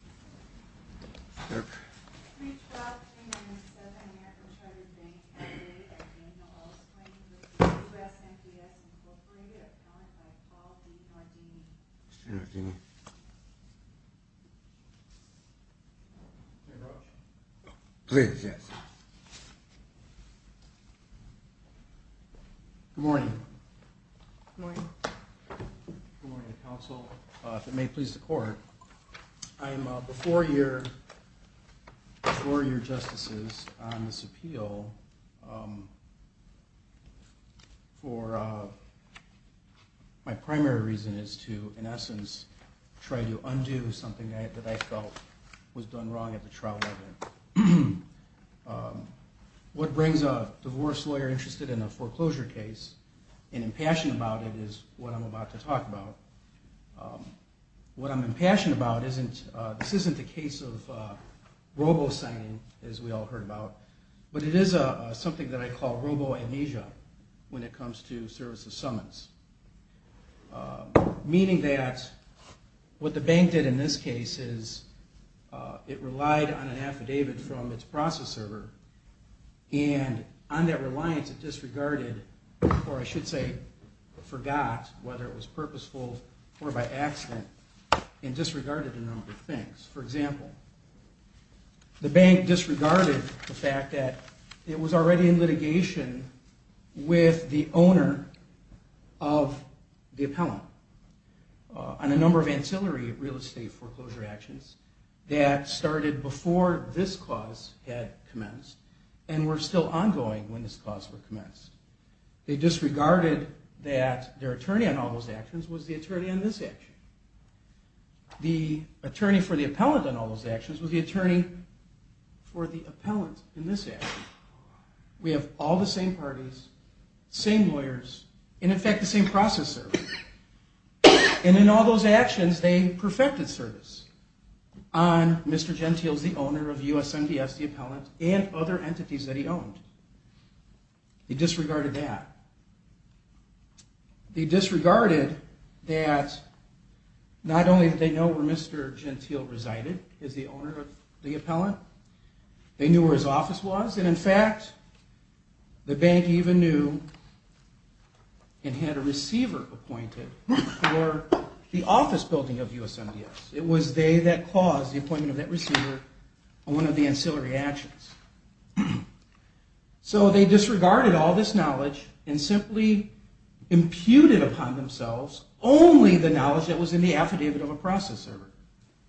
Incorporated, a client by the call, Steve Nardini. Mr. Nardini. Please, yes. Good morning. Good morning. Good morning, counsel. If it may please the court, I am a before year, before year justices on this appeal for my primary reason is to, in essence, try to undo something that I felt was done wrong at the trial level. What brings a divorce lawyer interested in a foreclosure case and impassioned about it is what I'm about to talk about. What I'm impassioned about, this isn't the case of robo-signing, as we all heard about, but it is something that I call robo-amnesia when it comes to services summons, meaning that what the bank did in this case is it relied on an affidavit from its process server and on that reliance it disregarded, or I should say forgot whether it was purposeful or by accident and disregarded a number of things. For example, the bank disregarded the fact that it was already in litigation with the owner of the appellant on a number of ancillary real estate foreclosure actions that started before this clause had commenced and were still ongoing when this clause were commenced. They disregarded that their attorney on all those actions was the attorney on this action. The attorney for the appellant on all those actions was the attorney for the appellant in this action. We have all the same parties, same lawyers, and in fact, the same process server, and in all those actions they perfected service on Mr. Gentile's, the owner of USMDS, the appellant, and other entities that he owned. They disregarded that. They disregarded that not only did they know where Mr. Gentile resided as the owner of the appellant, they knew where his office was, and in fact, the bank even knew and had a receiver appointed for the office building of USMDS. It was they that caused the appointment of that receiver on one of the ancillary actions. So they disregarded all this knowledge and simply imputed upon themselves only the knowledge that was in the affidavit of a process server,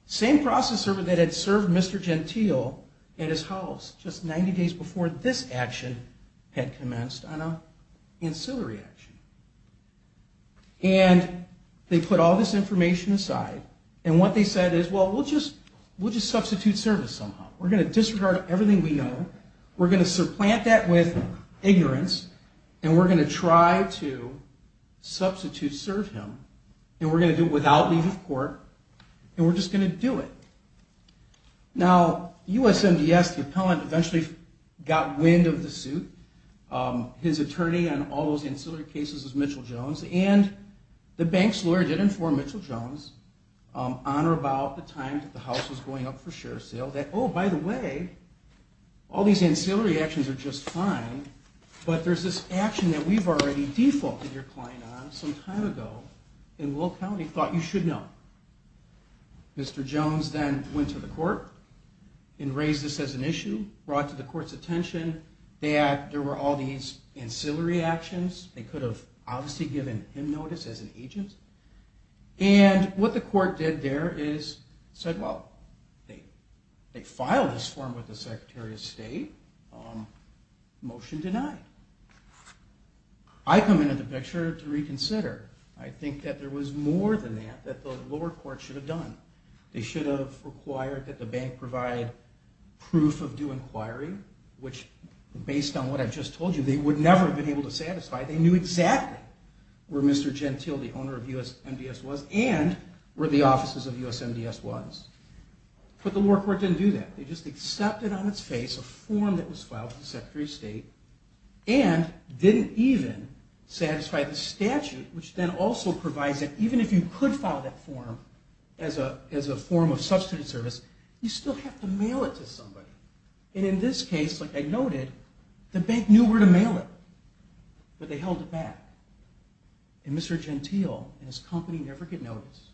same process server that had served Mr. Gentile at his house just 90 days before this action had commenced on an ancillary action. And they put all this information aside, and what they said is, well, we'll just substitute service somehow. We're going to disregard everything we know. We're going to supplant that with ignorance, and we're going to try to substitute serve him, and we're going to do it without leave of court, and we're just going to do it. Now, USMDS, the appellant eventually got wind of the suit. His attorney on all those ancillary cases was Mitchell Jones, and the bank's lawyer did inform Mitchell Jones on or about the time that the house was going up for share sale that, oh, by the way, all these ancillary actions are just fine, but there's this action that we've already defaulted your client on some time ago, and Will County thought you should know. Mr. Jones then went to the court and raised this as an issue, brought to the court's attention that there were all these ancillary actions. They could have obviously given him notice as an agent, and what the court did there is said, well, they filed this form with the Secretary of State. Motion denied. I come into the picture to reconsider. I think that there was more than that that the lower court should have done. They should have required that the bank provide proof of due inquiry, which based on what I've just told you, they would never have been able to satisfy. They knew exactly where Mr. Gentile, the owner of USMDS, was and where the offices of USMDS was, but the lower court didn't do that. They just accepted on its face a form that was filed with the Secretary of State and didn't even satisfy the statute, which then also provides that even if you could file that form as a form of substituted service, you still have to mail it to somebody. In this case, like I noted, the bank knew where to mail it, but they held it back. Mr. Gentile and his company never get notice.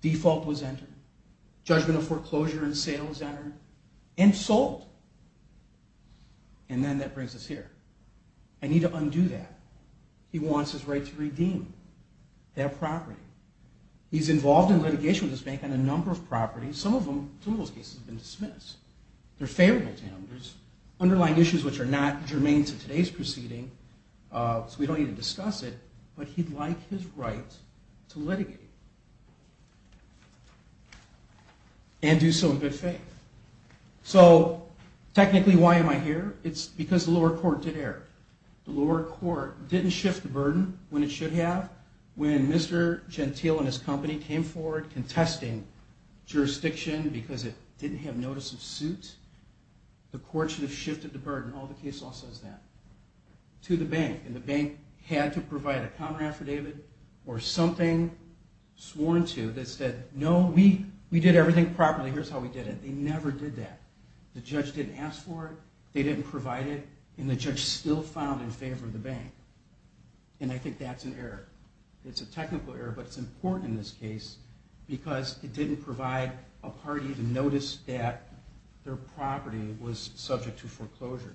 Default was entered. Judgment of foreclosure and sale was entered and sold. And then that brings us here. I need to undo that. He wants his right to redeem that property. He's involved in litigation with this bank on a number of properties. Some of them, in most cases, have been dismissed. They're favorable to him. There's underlying issues which are not germane to today's proceeding, so we don't need to discuss it, but he'd like his right to litigate and do so in good faith. So technically, why am I here? It's because the lower court did err. The lower court didn't shift the burden when it should have. When Mr. Gentile and his company came forward contesting jurisdiction because it didn't have notice of suit, the court should have shifted the burden. All the case law says that. To the bank, and the bank had to provide a counter-affidavit or something sworn to that said, no, we did everything properly. Here's how we did it. They never did that. The judge didn't ask for it, they didn't provide it, and the judge still filed in favor of the bank, and I think that's an error. It's a technical error, but it's important in this case because it didn't provide a party to notice that their property was subject to foreclosure.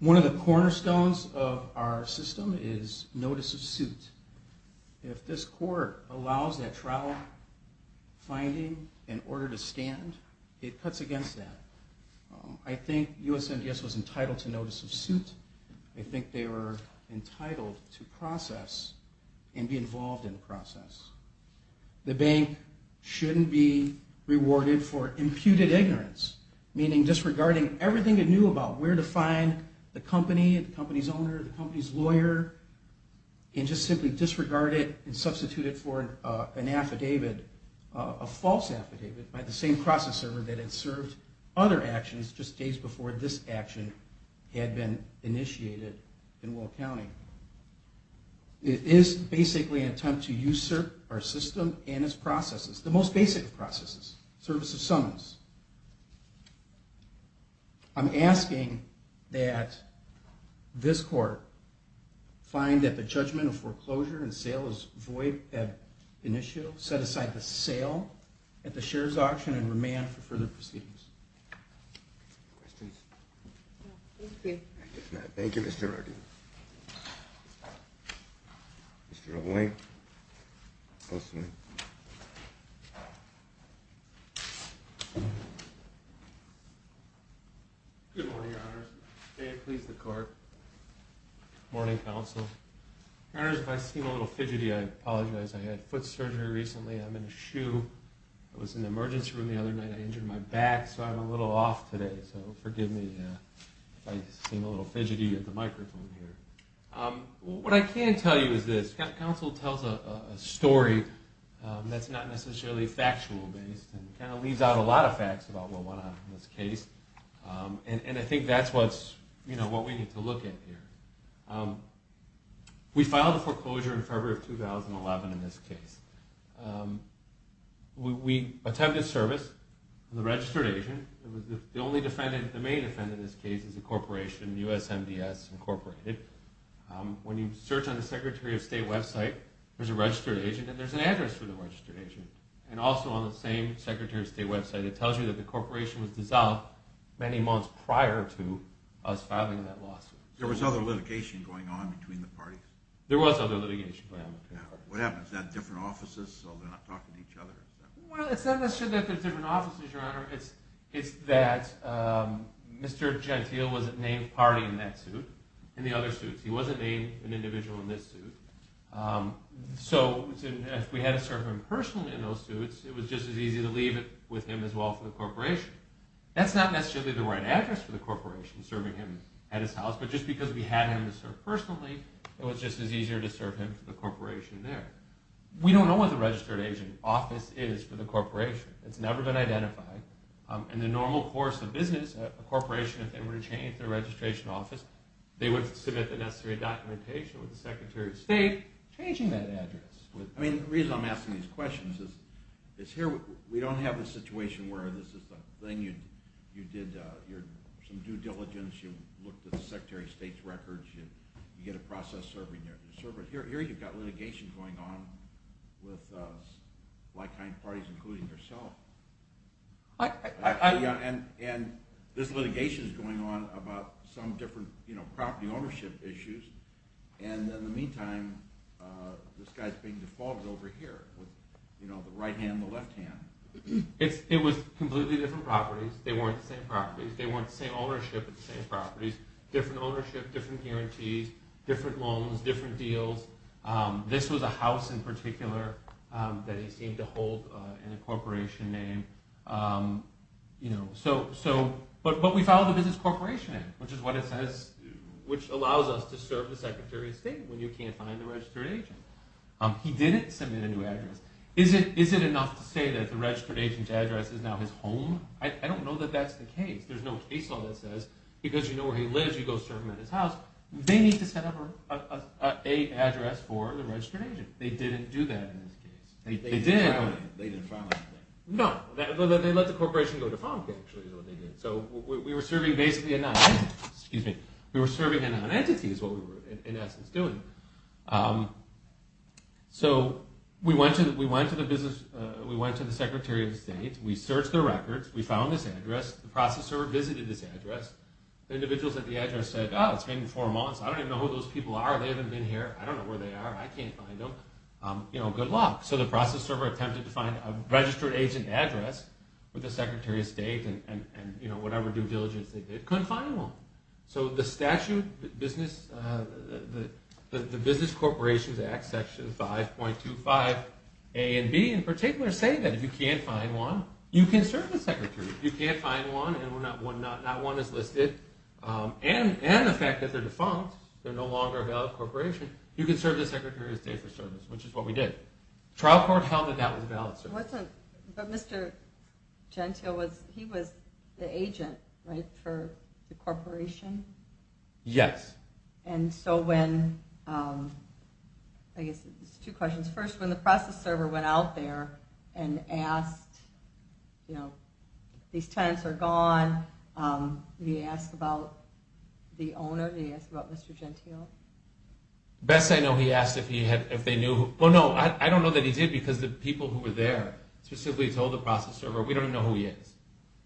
One of the cornerstones of our system is notice of suit. If this court allows that trial finding in order to stand, it cuts against that. I think USMDS was entitled to notice of suit. I think they were entitled to process and be involved in the process. The bank shouldn't be rewarded for imputed ignorance, meaning disregarding everything it knew about where to find the company, the company's owner, the company's lawyer, and just simply disregard it and substitute it for an affidavit, a false affidavit by the same process server that had served other actions just days before this action had been initiated in Will County. It is basically an attempt to usurp our system and its processes, the most basic of processes, service of summons. I'm asking that this court find that the judgment of foreclosure and sale is void at initial, set aside the sale at the shares auction and remand for further proceedings. Questions? No, thank you. Thank you, Mr. Roddy. Mr. O'Boyne. Yes, sir. Good morning, Your Honors. May it please the Court. Good morning, Counsel. Your Honors, if I seem a little fidgety, I apologize. I had foot surgery recently. I'm in a shoe. I was in the emergency room the other night. I injured my back, so I'm a little off today. So forgive me if I seem a little fidgety at the microphone here. What I can tell you is this. Counsel tells a story that's not necessarily factual-based and kind of leaves out a lot of facts about what went on in this case. And I think that's what we need to look at here. We filed a foreclosure in February of 2011 in this case. We attempted service with a registered agent. The main defendant in this case is a corporation, USMDS, Inc. When you search on the Secretary of State website, there's a registered agent and there's an address for the registered agent. And also on the same Secretary of State website, it tells you that the corporation was dissolved many months prior to us filing that lawsuit. There was other litigation going on between the parties? There was other litigation going on between the parties. What happened? Is that different offices, so they're not talking to each other? Well, it's not necessarily that they're different offices, Your Honor. It's that Mr. Gentile wasn't named party in that suit, in the other suits. He wasn't named an individual in this suit. So if we had to serve him personally in those suits, it was just as easy to leave it with him as well for the corporation. That's not necessarily the right address for the corporation, serving him at his house, but just because we had him to serve personally, it was just as easier to serve him for the corporation there. We don't know what the registered agent office is for the corporation. It's never been identified. In the normal course of business, a corporation, if they were to change their registration office, they would submit the necessary documentation with the Secretary of State, changing that address. The reason I'm asking these questions is here we don't have a situation where this is the thing you did some due diligence, you looked at the Secretary of State's records, you get a process serving your service. But here you've got litigation going on with like-minded parties, including yourself. And this litigation is going on about some different property ownership issues. And in the meantime, this guy is being defaulted over here with the right hand and the left hand. It was completely different properties. They weren't the same properties. They weren't the same ownership of the same properties. Different ownership, different guarantees, different loans, different deals. This was a house in particular that he seemed to hold in a corporation name. But we filed the Business Corporation Act, which is what it says, which allows us to serve the Secretary of State when you can't find the registered agent. He didn't submit a new address. Is it enough to say that the registered agent's address is now his home? I don't know that that's the case. There's no case law that says because you know where he lives, you go serve him at his house. They need to set up an address for the registered agent. They didn't do that in this case. They didn't file anything. No. They let the corporation go defunct, actually, is what they did. So we were serving basically a nonentity. We were serving a nonentity is what we were, in essence, doing. So we went to the Secretary of State. We searched their records. We found this address. The processor visited this address. The individuals at the address said, Oh, it's been four months. I don't even know who those people are. They haven't been here. I don't know where they are. I can't find them. Good luck. So the processor attempted to find a registered agent address with the Secretary of State, and whatever due diligence they did, couldn't find one. So the statute, the Business Corporations Act, Section 5.25a and b, in particular, say that if you can't find one, you can serve the Secretary. If you can't find one, and not one is listed, and the fact that they're defunct, they're no longer a valid corporation, you can serve the Secretary of State for service, which is what we did. Trial court held that that was a valid service. But Mr. Gentile, he was the agent, right, for the corporation? Yes. And so when, I guess there's two questions. First, when the process server went out there and asked, you know, these tenants are gone, he asked about the owner, he asked about Mr. Gentile. Best I know, he asked if they knew. Well, no, I don't know that he did because the people who were there specifically told the process server we don't even know who he is.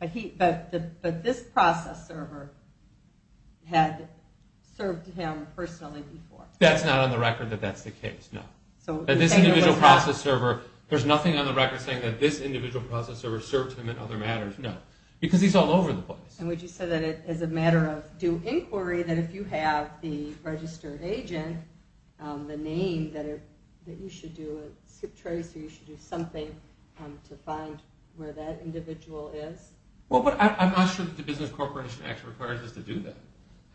But this process server had served him personally before. That's not on the record that that's the case, no. That this individual process server, there's nothing on the record saying that this individual process server served him in other matters, no. Because he's all over the place. And would you say that as a matter of due inquiry, that if you have the registered agent, the name that you should do, you should do something to find where that individual is? Well, but I'm not sure that the Business Corporation actually requires us to do that.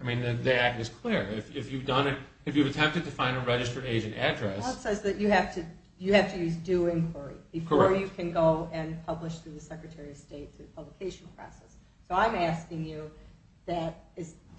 I mean, the act is clear. If you've attempted to find a registered agent address. Well, it says that you have to use due inquiry before you can go and publish through the Secretary of State through the publication process. So I'm asking you, do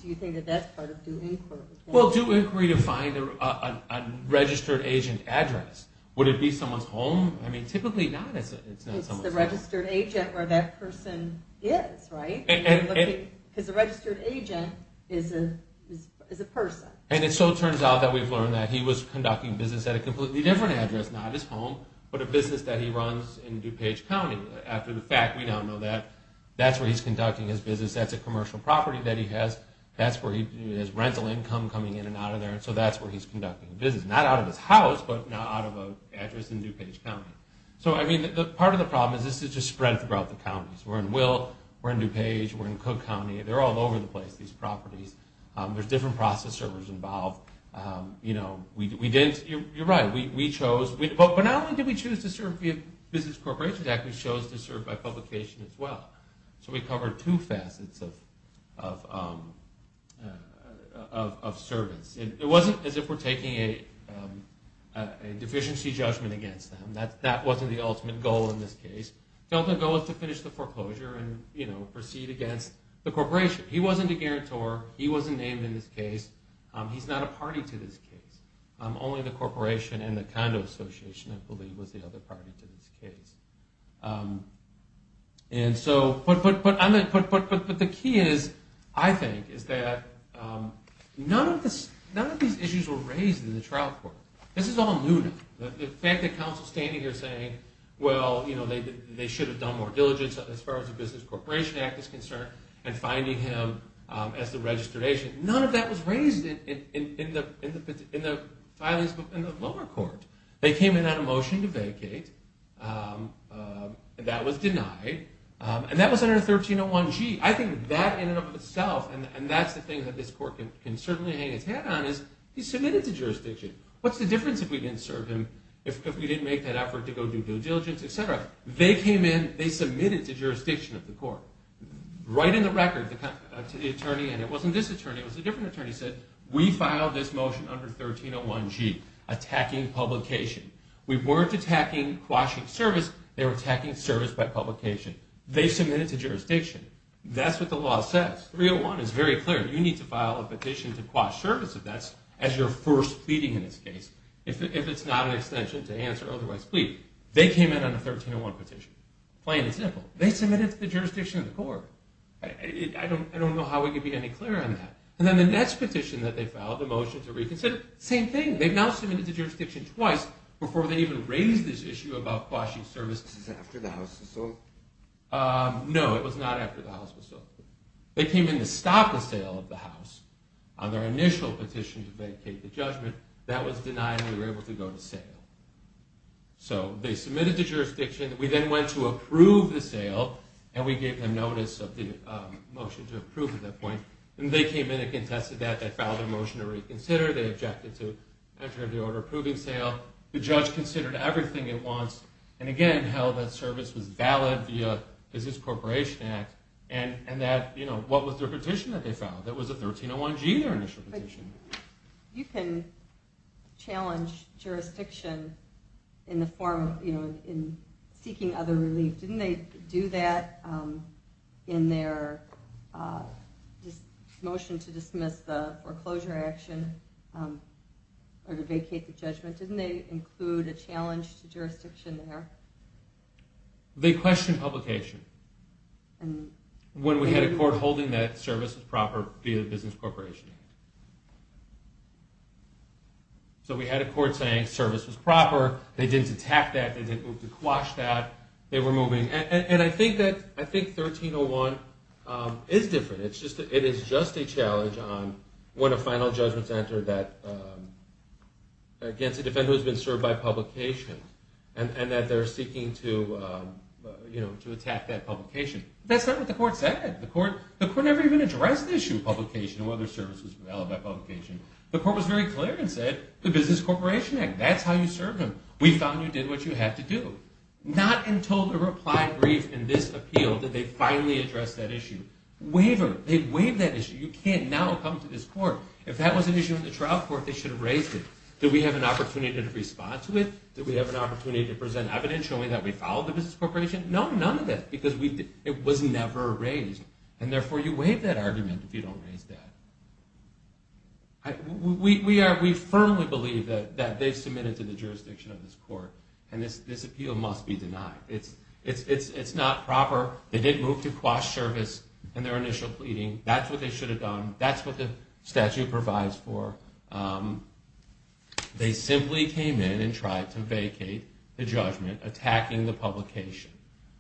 you think that that's part of due inquiry? Well, due inquiry to find a registered agent address. Would it be someone's home? I mean, typically not. It's the registered agent where that person is, right? Because a registered agent is a person. And it so turns out that we've learned that he was conducting business at a completely different address, not his home, but a business that he runs in DuPage County. After the fact, we don't know that. That's where he's conducting his business. That's a commercial property that he has. That's where he has rental income coming in and out of there. So that's where he's conducting business. Not out of his house, but not out of an address in DuPage County. So, I mean, part of the problem is this is just spread throughout the counties. We're in Will, we're in DuPage, we're in Cook County. They're all over the place, these properties. There's different process servers involved. You're right, we chose. But not only did we choose to serve via Business Corporations Act, we chose to serve by publication as well. So we covered two facets of service. It wasn't as if we're taking a deficiency judgment against them. That wasn't the ultimate goal in this case. The ultimate goal was to finish the foreclosure and proceed against the corporation. He wasn't a guarantor. He wasn't named in this case. He's not a party to this case. Only the corporation and the condo association, I believe, was the other party to this case. But the key is, I think, is that none of these issues were raised in the trial court. This is all new now. The fact that counsel is standing here saying, well, you know, they should have done more diligence as far as the Business Corporation Act is concerned and finding him as the registration, none of that was raised in the lower court. They came in on a motion to vacate. That was denied. And that was under 1301G. I think that in and of itself, and that's the thing that this court can certainly hang its hat on, is he submitted to jurisdiction. What's the difference if we didn't serve him, if we didn't make that effort to go do due diligence, et cetera? They came in. They submitted to jurisdiction of the court. Right in the record, the attorney, and it wasn't this attorney, it was a different attorney, said, we filed this motion under 1301G, attacking publication. We weren't attacking quashing service. They were attacking service by publication. They submitted to jurisdiction. That's what the law says. 301 is very clear. You need to file a petition to quash service if that's as your first pleading in this case, if it's not an extension to answer otherwise plead. They came in on a 1301 petition. Plain and simple. They submitted to the jurisdiction of the court. I don't know how we can be any clearer on that. And then the next petition that they filed, the motion to reconsider, same thing. They've now submitted to jurisdiction twice before they even raised this issue about quashing service. This is after the House was sold? No, it was not after the House was sold. They came in to stop the sale of the House on their initial petition to vacate the judgment. That was denied, and we were able to go to sale. So they submitted to jurisdiction. We then went to approve the sale, and we gave them notice of the motion to approve at that point. And they came in and contested that. They filed a motion to reconsider. They objected to entering the order approving sale. The judge considered everything at once. And, again, held that service was valid via Business Corporation Act, and what was their petition that they filed? That was a 1301G, their initial petition. You can challenge jurisdiction in seeking other relief. Didn't they do that in their motion to dismiss the foreclosure action or to vacate the judgment? Didn't they include a challenge to jurisdiction there? They questioned publication. When we had a court holding that service was proper via the Business Corporation Act. So we had a court saying service was proper. They didn't attack that. They didn't move to quash that. They were moving. And I think 1301 is different. It is just a challenge on when a final judgment is entered that, again, the defendant has been served by publication and that they're seeking to attack that publication. That's not what the court said. The court never even addressed the issue of publication or whether service was valid by publication. The court was very clear and said the Business Corporation Act. That's how you served them. We found you did what you had to do. Not until the reply brief in this appeal did they finally address that issue. Waiver. They waived that issue. You can't now come to this court. If that was an issue in the trial court, they should have raised it. Did we have an opportunity to respond to it? Did we have an opportunity to present evidence showing that we followed the business corporation? No, none of that because it was never raised. And therefore, you waive that argument if you don't raise that. We firmly believe that they submitted to the jurisdiction of this court. And this appeal must be denied. It's not proper. They didn't move to quash service in their initial pleading. That's what they should have done. That's what the statute provides for. They simply came in and tried to vacate the judgment, attacking the publication.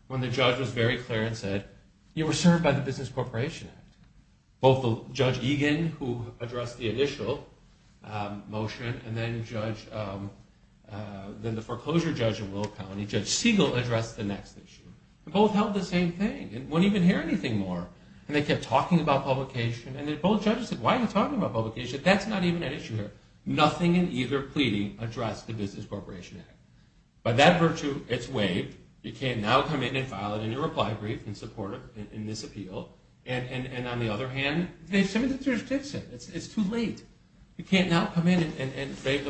When the judge was very clear and said, you were served by the Business Corporation Act. Both Judge Egan, who addressed the initial motion, and then the foreclosure judge in Willow County, Judge Siegel, addressed the next issue. They both held the same thing and wouldn't even hear anything more. And they kept talking about publication. And then both judges said, why are you talking about publication? That's not even an issue here. Nothing in either pleading addressed the Business Corporation Act. By that virtue, it's waived. You can now come in and file a new reply brief in support of this appeal. And on the other hand, they submitted to the jurisdiction. It's too late. You can't now come in and wave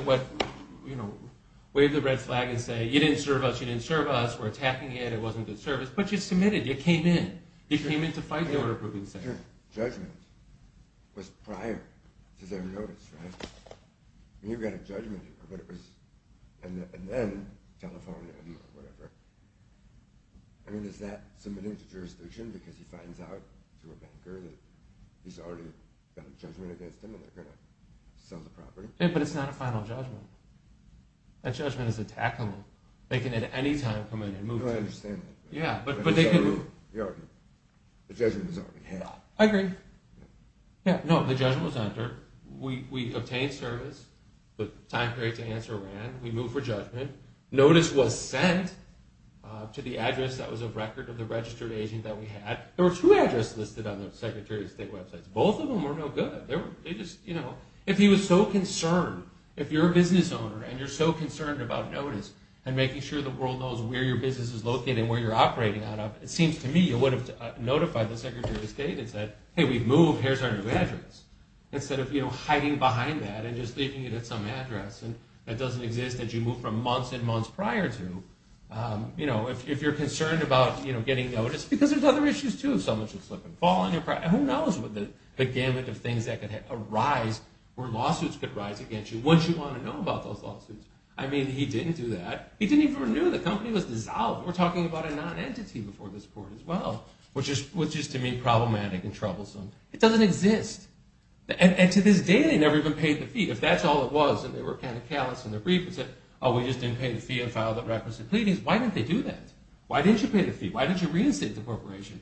the red flag and say, you didn't serve us, you didn't serve us. We're attacking it. It wasn't good service. But you submitted. You came in. You came in to fight the order-approving session. Judgment was prior to their notice, right? And you've got a judgment here. And then telephone him or whatever. I mean, is that submitting to jurisdiction because he finds out through a banker that he's already got a judgment against him and they're going to sell the property? Yeah, but it's not a final judgment. That judgment is attackable. They can at any time come in and move to it. No, I understand that. Yeah. The judgment is already had. I agree. No, the judgment was under. We obtained service. The time period to answer ran. We moved for judgment. Notice was sent to the address that was a record of the registered agent that we had. There were two addresses listed on the Secretary of State websites. Both of them were no good. They just, you know, if he was so concerned, if you're a business owner and you're so concerned about notice and making sure the world knows where your business is located and where you're operating out of, it seems to me you would have notified the Secretary of State and said, hey, we've moved. Here's our new address, instead of, you know, hiding behind that and just leaving it at some address. And that doesn't exist that you moved from months and months prior to. You know, if you're concerned about, you know, getting notice because there's other issues too. Someone should slip and fall. Who knows what the gamut of things that could arise where lawsuits could rise against you once you want to know about those lawsuits. I mean, he didn't do that. He didn't even renew. The company was dissolved. We're talking about a non-entity before this court as well, which is to me problematic and troublesome. It doesn't exist. And to this day, they never even paid the fee. If that's all it was and they were kind of callous in their brief and said, oh, we just didn't pay the fee and filed the requisite pleadings, why didn't they do that? Why didn't you pay the fee? Why didn't you reinstate the corporation?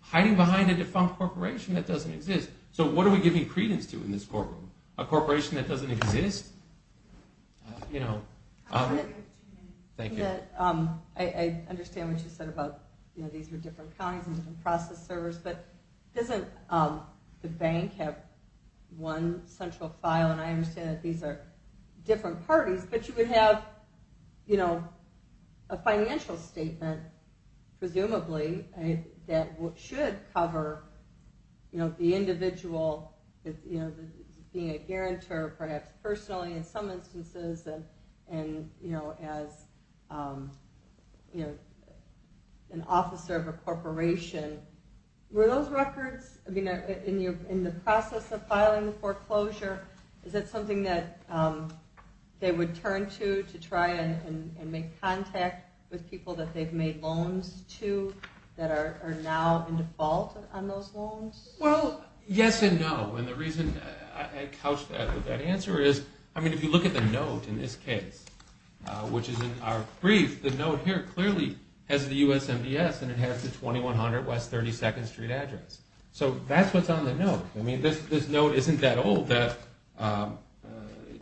Hiding behind a defunct corporation that doesn't exist. So what are we giving credence to in this courtroom? A corporation that doesn't exist? You know. Thank you. I understand what you said about these are different counties and different process servers, but doesn't the bank have one central file? And I understand that these are different parties, but you would have, you know, a financial statement, presumably, that should cover the individual being a guarantor, perhaps personally in some instances, and, you know, as an officer of a corporation. Were those records, I mean, in the process of filing the foreclosure, is that something that they would turn to to try and make contact with people that they've made loans to that are now in default on those loans? Well, yes and no. And the reason I couched that answer is, I mean, if you look at the note in this case, which is in our brief, the note here clearly has the USMDS, and it has the 2100 West 32nd Street address. So that's what's on the note. I mean, this note isn't that old.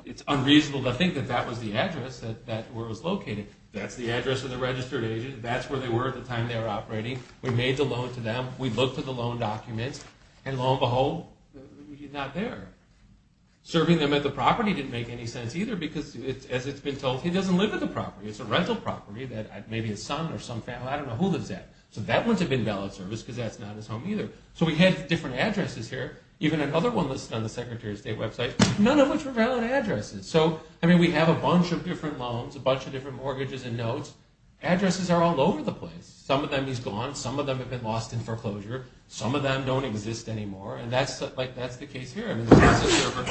It's unreasonable to think that that was the address where it was located. That's the address of the registered agent. That's where they were at the time they were operating. We made the loan to them. We looked at the loan documents. And, lo and behold, he's not there. Serving them at the property didn't make any sense either because, as it's been told, he doesn't live at the property. It's a rental property that maybe his son or some family, I don't know who lives there. So that wouldn't have been valid service because that's not his home either. So we had different addresses here. Even another one listed on the Secretary of State website, none of which were valid addresses. So, I mean, we have a bunch of different loans, a bunch of different mortgages and notes. Addresses are all over the place. Some of them he's gone. Some of them have been lost in foreclosure. Some of them don't exist anymore. And that's the case here. I mean, the process server,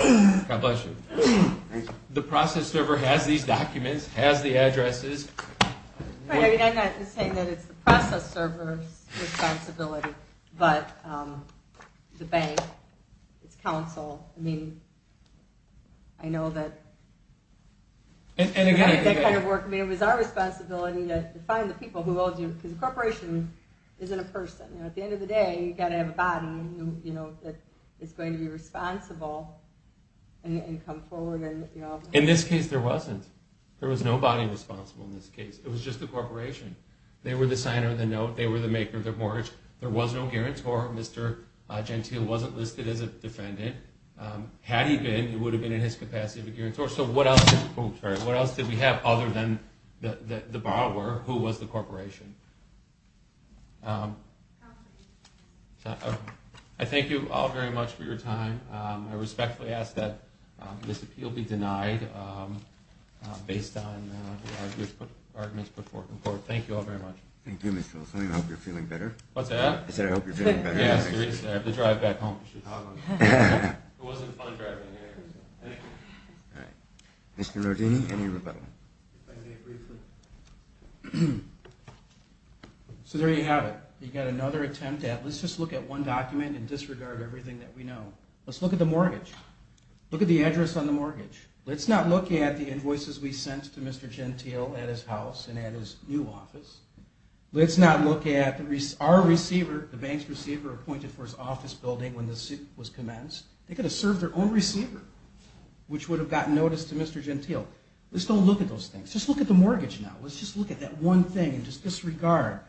God bless you. The process server has these documents, has the addresses. I'm not saying that it's the process server's responsibility, but the bank, its counsel. I mean, I know that that kind of work. I mean, it was our responsibility to find the people who owed you because a corporation isn't a person. At the end of the day, you've got to have a body that is going to be responsible and come forward. In this case, there wasn't. There was no body responsible in this case. It was just the corporation. They were the signer of the note. They were the maker of the mortgage. There was no guarantor. Mr. Gentile wasn't listed as a defendant. Had he been, he would have been in his capacity of a guarantor. So what else did we have other than the borrower, who was the corporation? I thank you all very much for your time. I respectfully ask that this appeal be denied based on the arguments put forth in court. Thank you all very much. Thank you, Mr. Olson. I hope you're feeling better. What's that? I said I hope you're feeling better. I have to drive back home. It wasn't fun driving here. Mr. Rodini, any rebuttal? If I may briefly. So there you have it. You've got another attempt at let's just look at one document and disregard everything that we know. Let's look at the mortgage. Look at the address on the mortgage. Let's not look at the invoices we sent to Mr. Gentile at his house and at his new office. Let's not look at our receiver, the bank's receiver appointed for his office building when the suit was commenced. They could have served their own receiver, which would have gotten notice to Mr. Gentile. Let's don't look at those things. Just look at the mortgage now. Let's just look at that one thing and just disregard.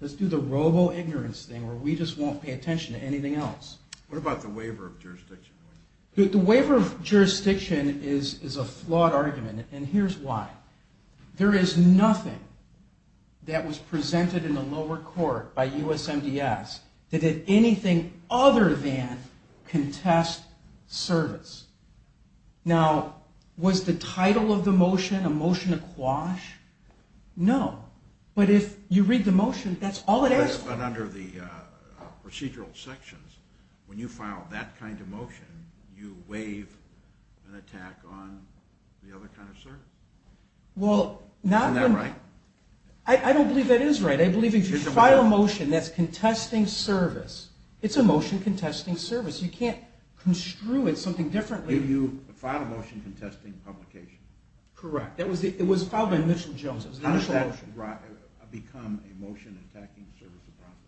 Let's do the robo-ignorance thing where we just won't pay attention to anything else. What about the waiver of jurisdiction? The waiver of jurisdiction is a flawed argument, and here's why. There is nothing that was presented in the lower court by USMDS that did anything other than contest service. Now, was the title of the motion a motion to quash? No. But if you read the motion, that's all it asks for. But under the procedural sections, when you file that kind of motion, you waive an attack on the other kind of service. Isn't that right? I don't believe that is right. I believe if you file a motion that's contesting service, it's a motion contesting service. You can't construe it something differently. You filed a motion contesting publication. Correct. It was filed by Mitchell Jones. How does that become a motion attacking service of profit?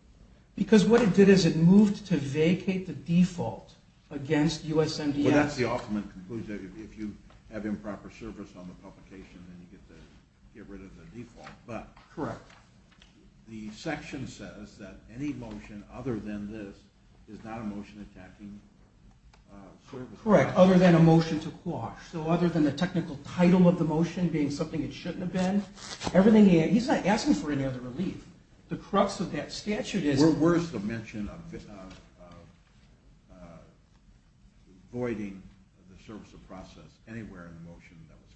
Because what it did is it moved to vacate the default against USMDS. Well, that's the ultimate conclusion. If you have improper service on the publication, then you get rid of the default. Correct. The section says that any motion other than this is not a motion attacking service of profit. Correct. Other than a motion to quash. Other than the technical title of the motion being something it shouldn't have been. He's not asking for any other relief. The crux of that statute is... Where's the mention of voiding the service of process anywhere in the motion that was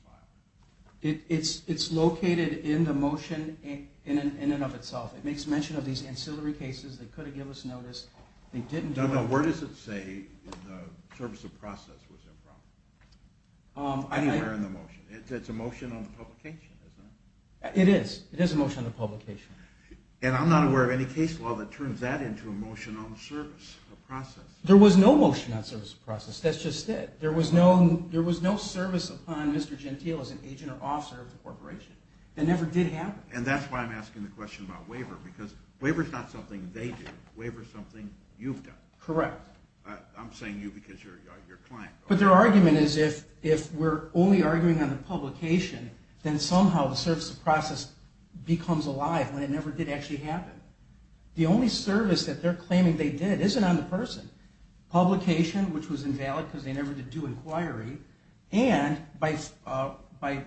filed? It's located in the motion in and of itself. It makes mention of these ancillary cases. They could have given us notice. Where does it say the service of process was improper? Anywhere in the motion. It's a motion on the publication, isn't it? It is. It is a motion on the publication. And I'm not aware of any case law that turns that into a motion on the service of process. There was no motion on the service of process. That's just it. There was no service upon Mr. Gentile as an agent or officer of the corporation. It never did happen. And that's why I'm asking the question about waiver. Because waiver is not something they do. Waiver is something you've done. Correct. I'm saying you because you're a client. But their argument is if we're only arguing on the publication, then somehow the service of process becomes alive when it never did actually happen. The only service that they're claiming they did isn't on the person. Publication, which was invalid because they never did do inquiry, and by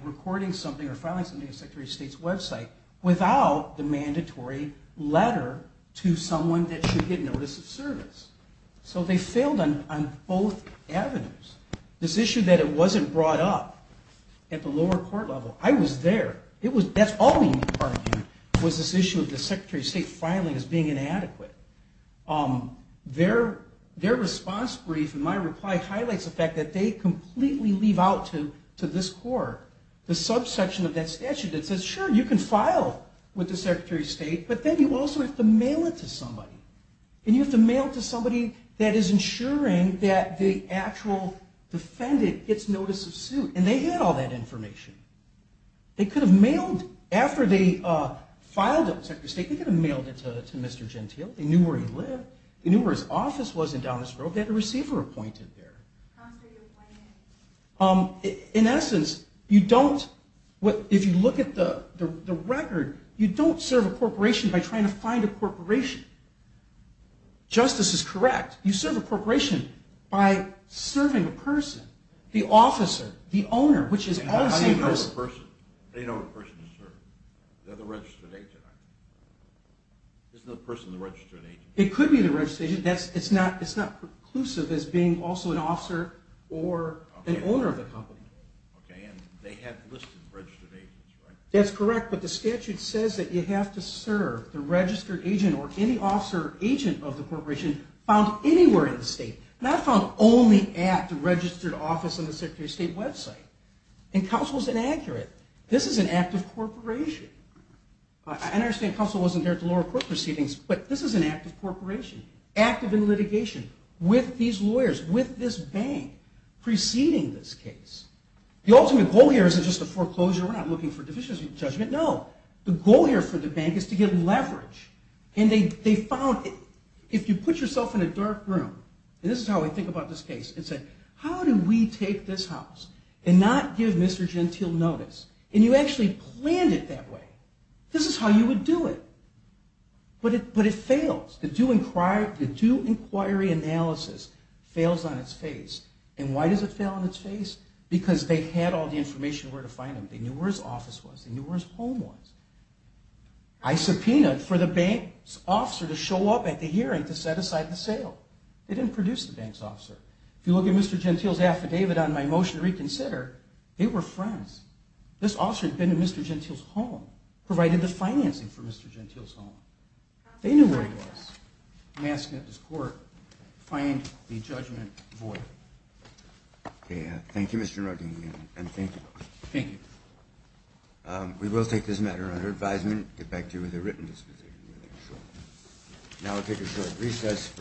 recording something or filing something on the Secretary of State's website without the mandatory letter to someone that should get notice of service. So they failed on both avenues. This issue that it wasn't brought up at the lower court level, I was there. That's all we argued was this issue of the Secretary of State filing as being inadequate. Their response brief in my reply highlights the fact that they completely leave out to this court the subsection of that statute that says, sure, you can file with the Secretary of State, but then you also have to mail it to somebody. And you have to mail it to somebody that is ensuring that the actual defendant gets notice of suit. And they had all that information. They could have mailed, after they filed it with the Secretary of State, they could have mailed it to Mr. Gentile. They knew where he lived. They knew where his office was in Dallas Grove. They had a receiver appointed there. In essence, you don't, if you look at the record, you don't serve a corporation by trying to find a corporation. Justice is correct. You serve a corporation by serving a person, the officer, the owner, which is all the same person. How do you know what person? How do you know what person to serve? They're the registered agent, aren't they? Isn't the person the registered agent? It could be the registered agent. It's not preclusive as being also an officer or an owner of the company. Okay, and they have listed registered agents, right? That's correct, but the statute says that you have to serve the registered agent or any officer or agent of the corporation found anywhere in the state, not found only at the registered office on the Secretary of State website. And counsel is inaccurate. This is an act of corporation. I understand counsel wasn't there at the lower court proceedings, but this is an act of corporation, active in litigation with these lawyers, with this bank preceding this case. The ultimate goal here isn't just a foreclosure. We're not looking for deficiency of judgment. No. The goal here for the bank is to get leverage. And they found if you put yourself in a dark room, and this is how I think about this case, and say, how do we take this house and not give Mr. Gentile notice? And you actually planned it that way. This is how you would do it. But it fails. The due inquiry analysis fails on its face. And why does it fail on its face? Because they had all the information where to find him. They knew where his office was. They knew where his home was. I subpoenaed for the bank's officer to show up at the hearing to set aside the sale. They didn't produce the bank's officer. If you look at Mr. Gentile's affidavit on my motion to reconsider, they were friends. This officer had been to Mr. Gentile's home, provided the financing for Mr. Gentile's home. They knew where he was. I'm asking that this court find the judgment void. Thank you, Mr. Nardini, and thank you. Thank you. We will take this matter under advisement, get back to you with a written disposition. Now we'll take a short recess.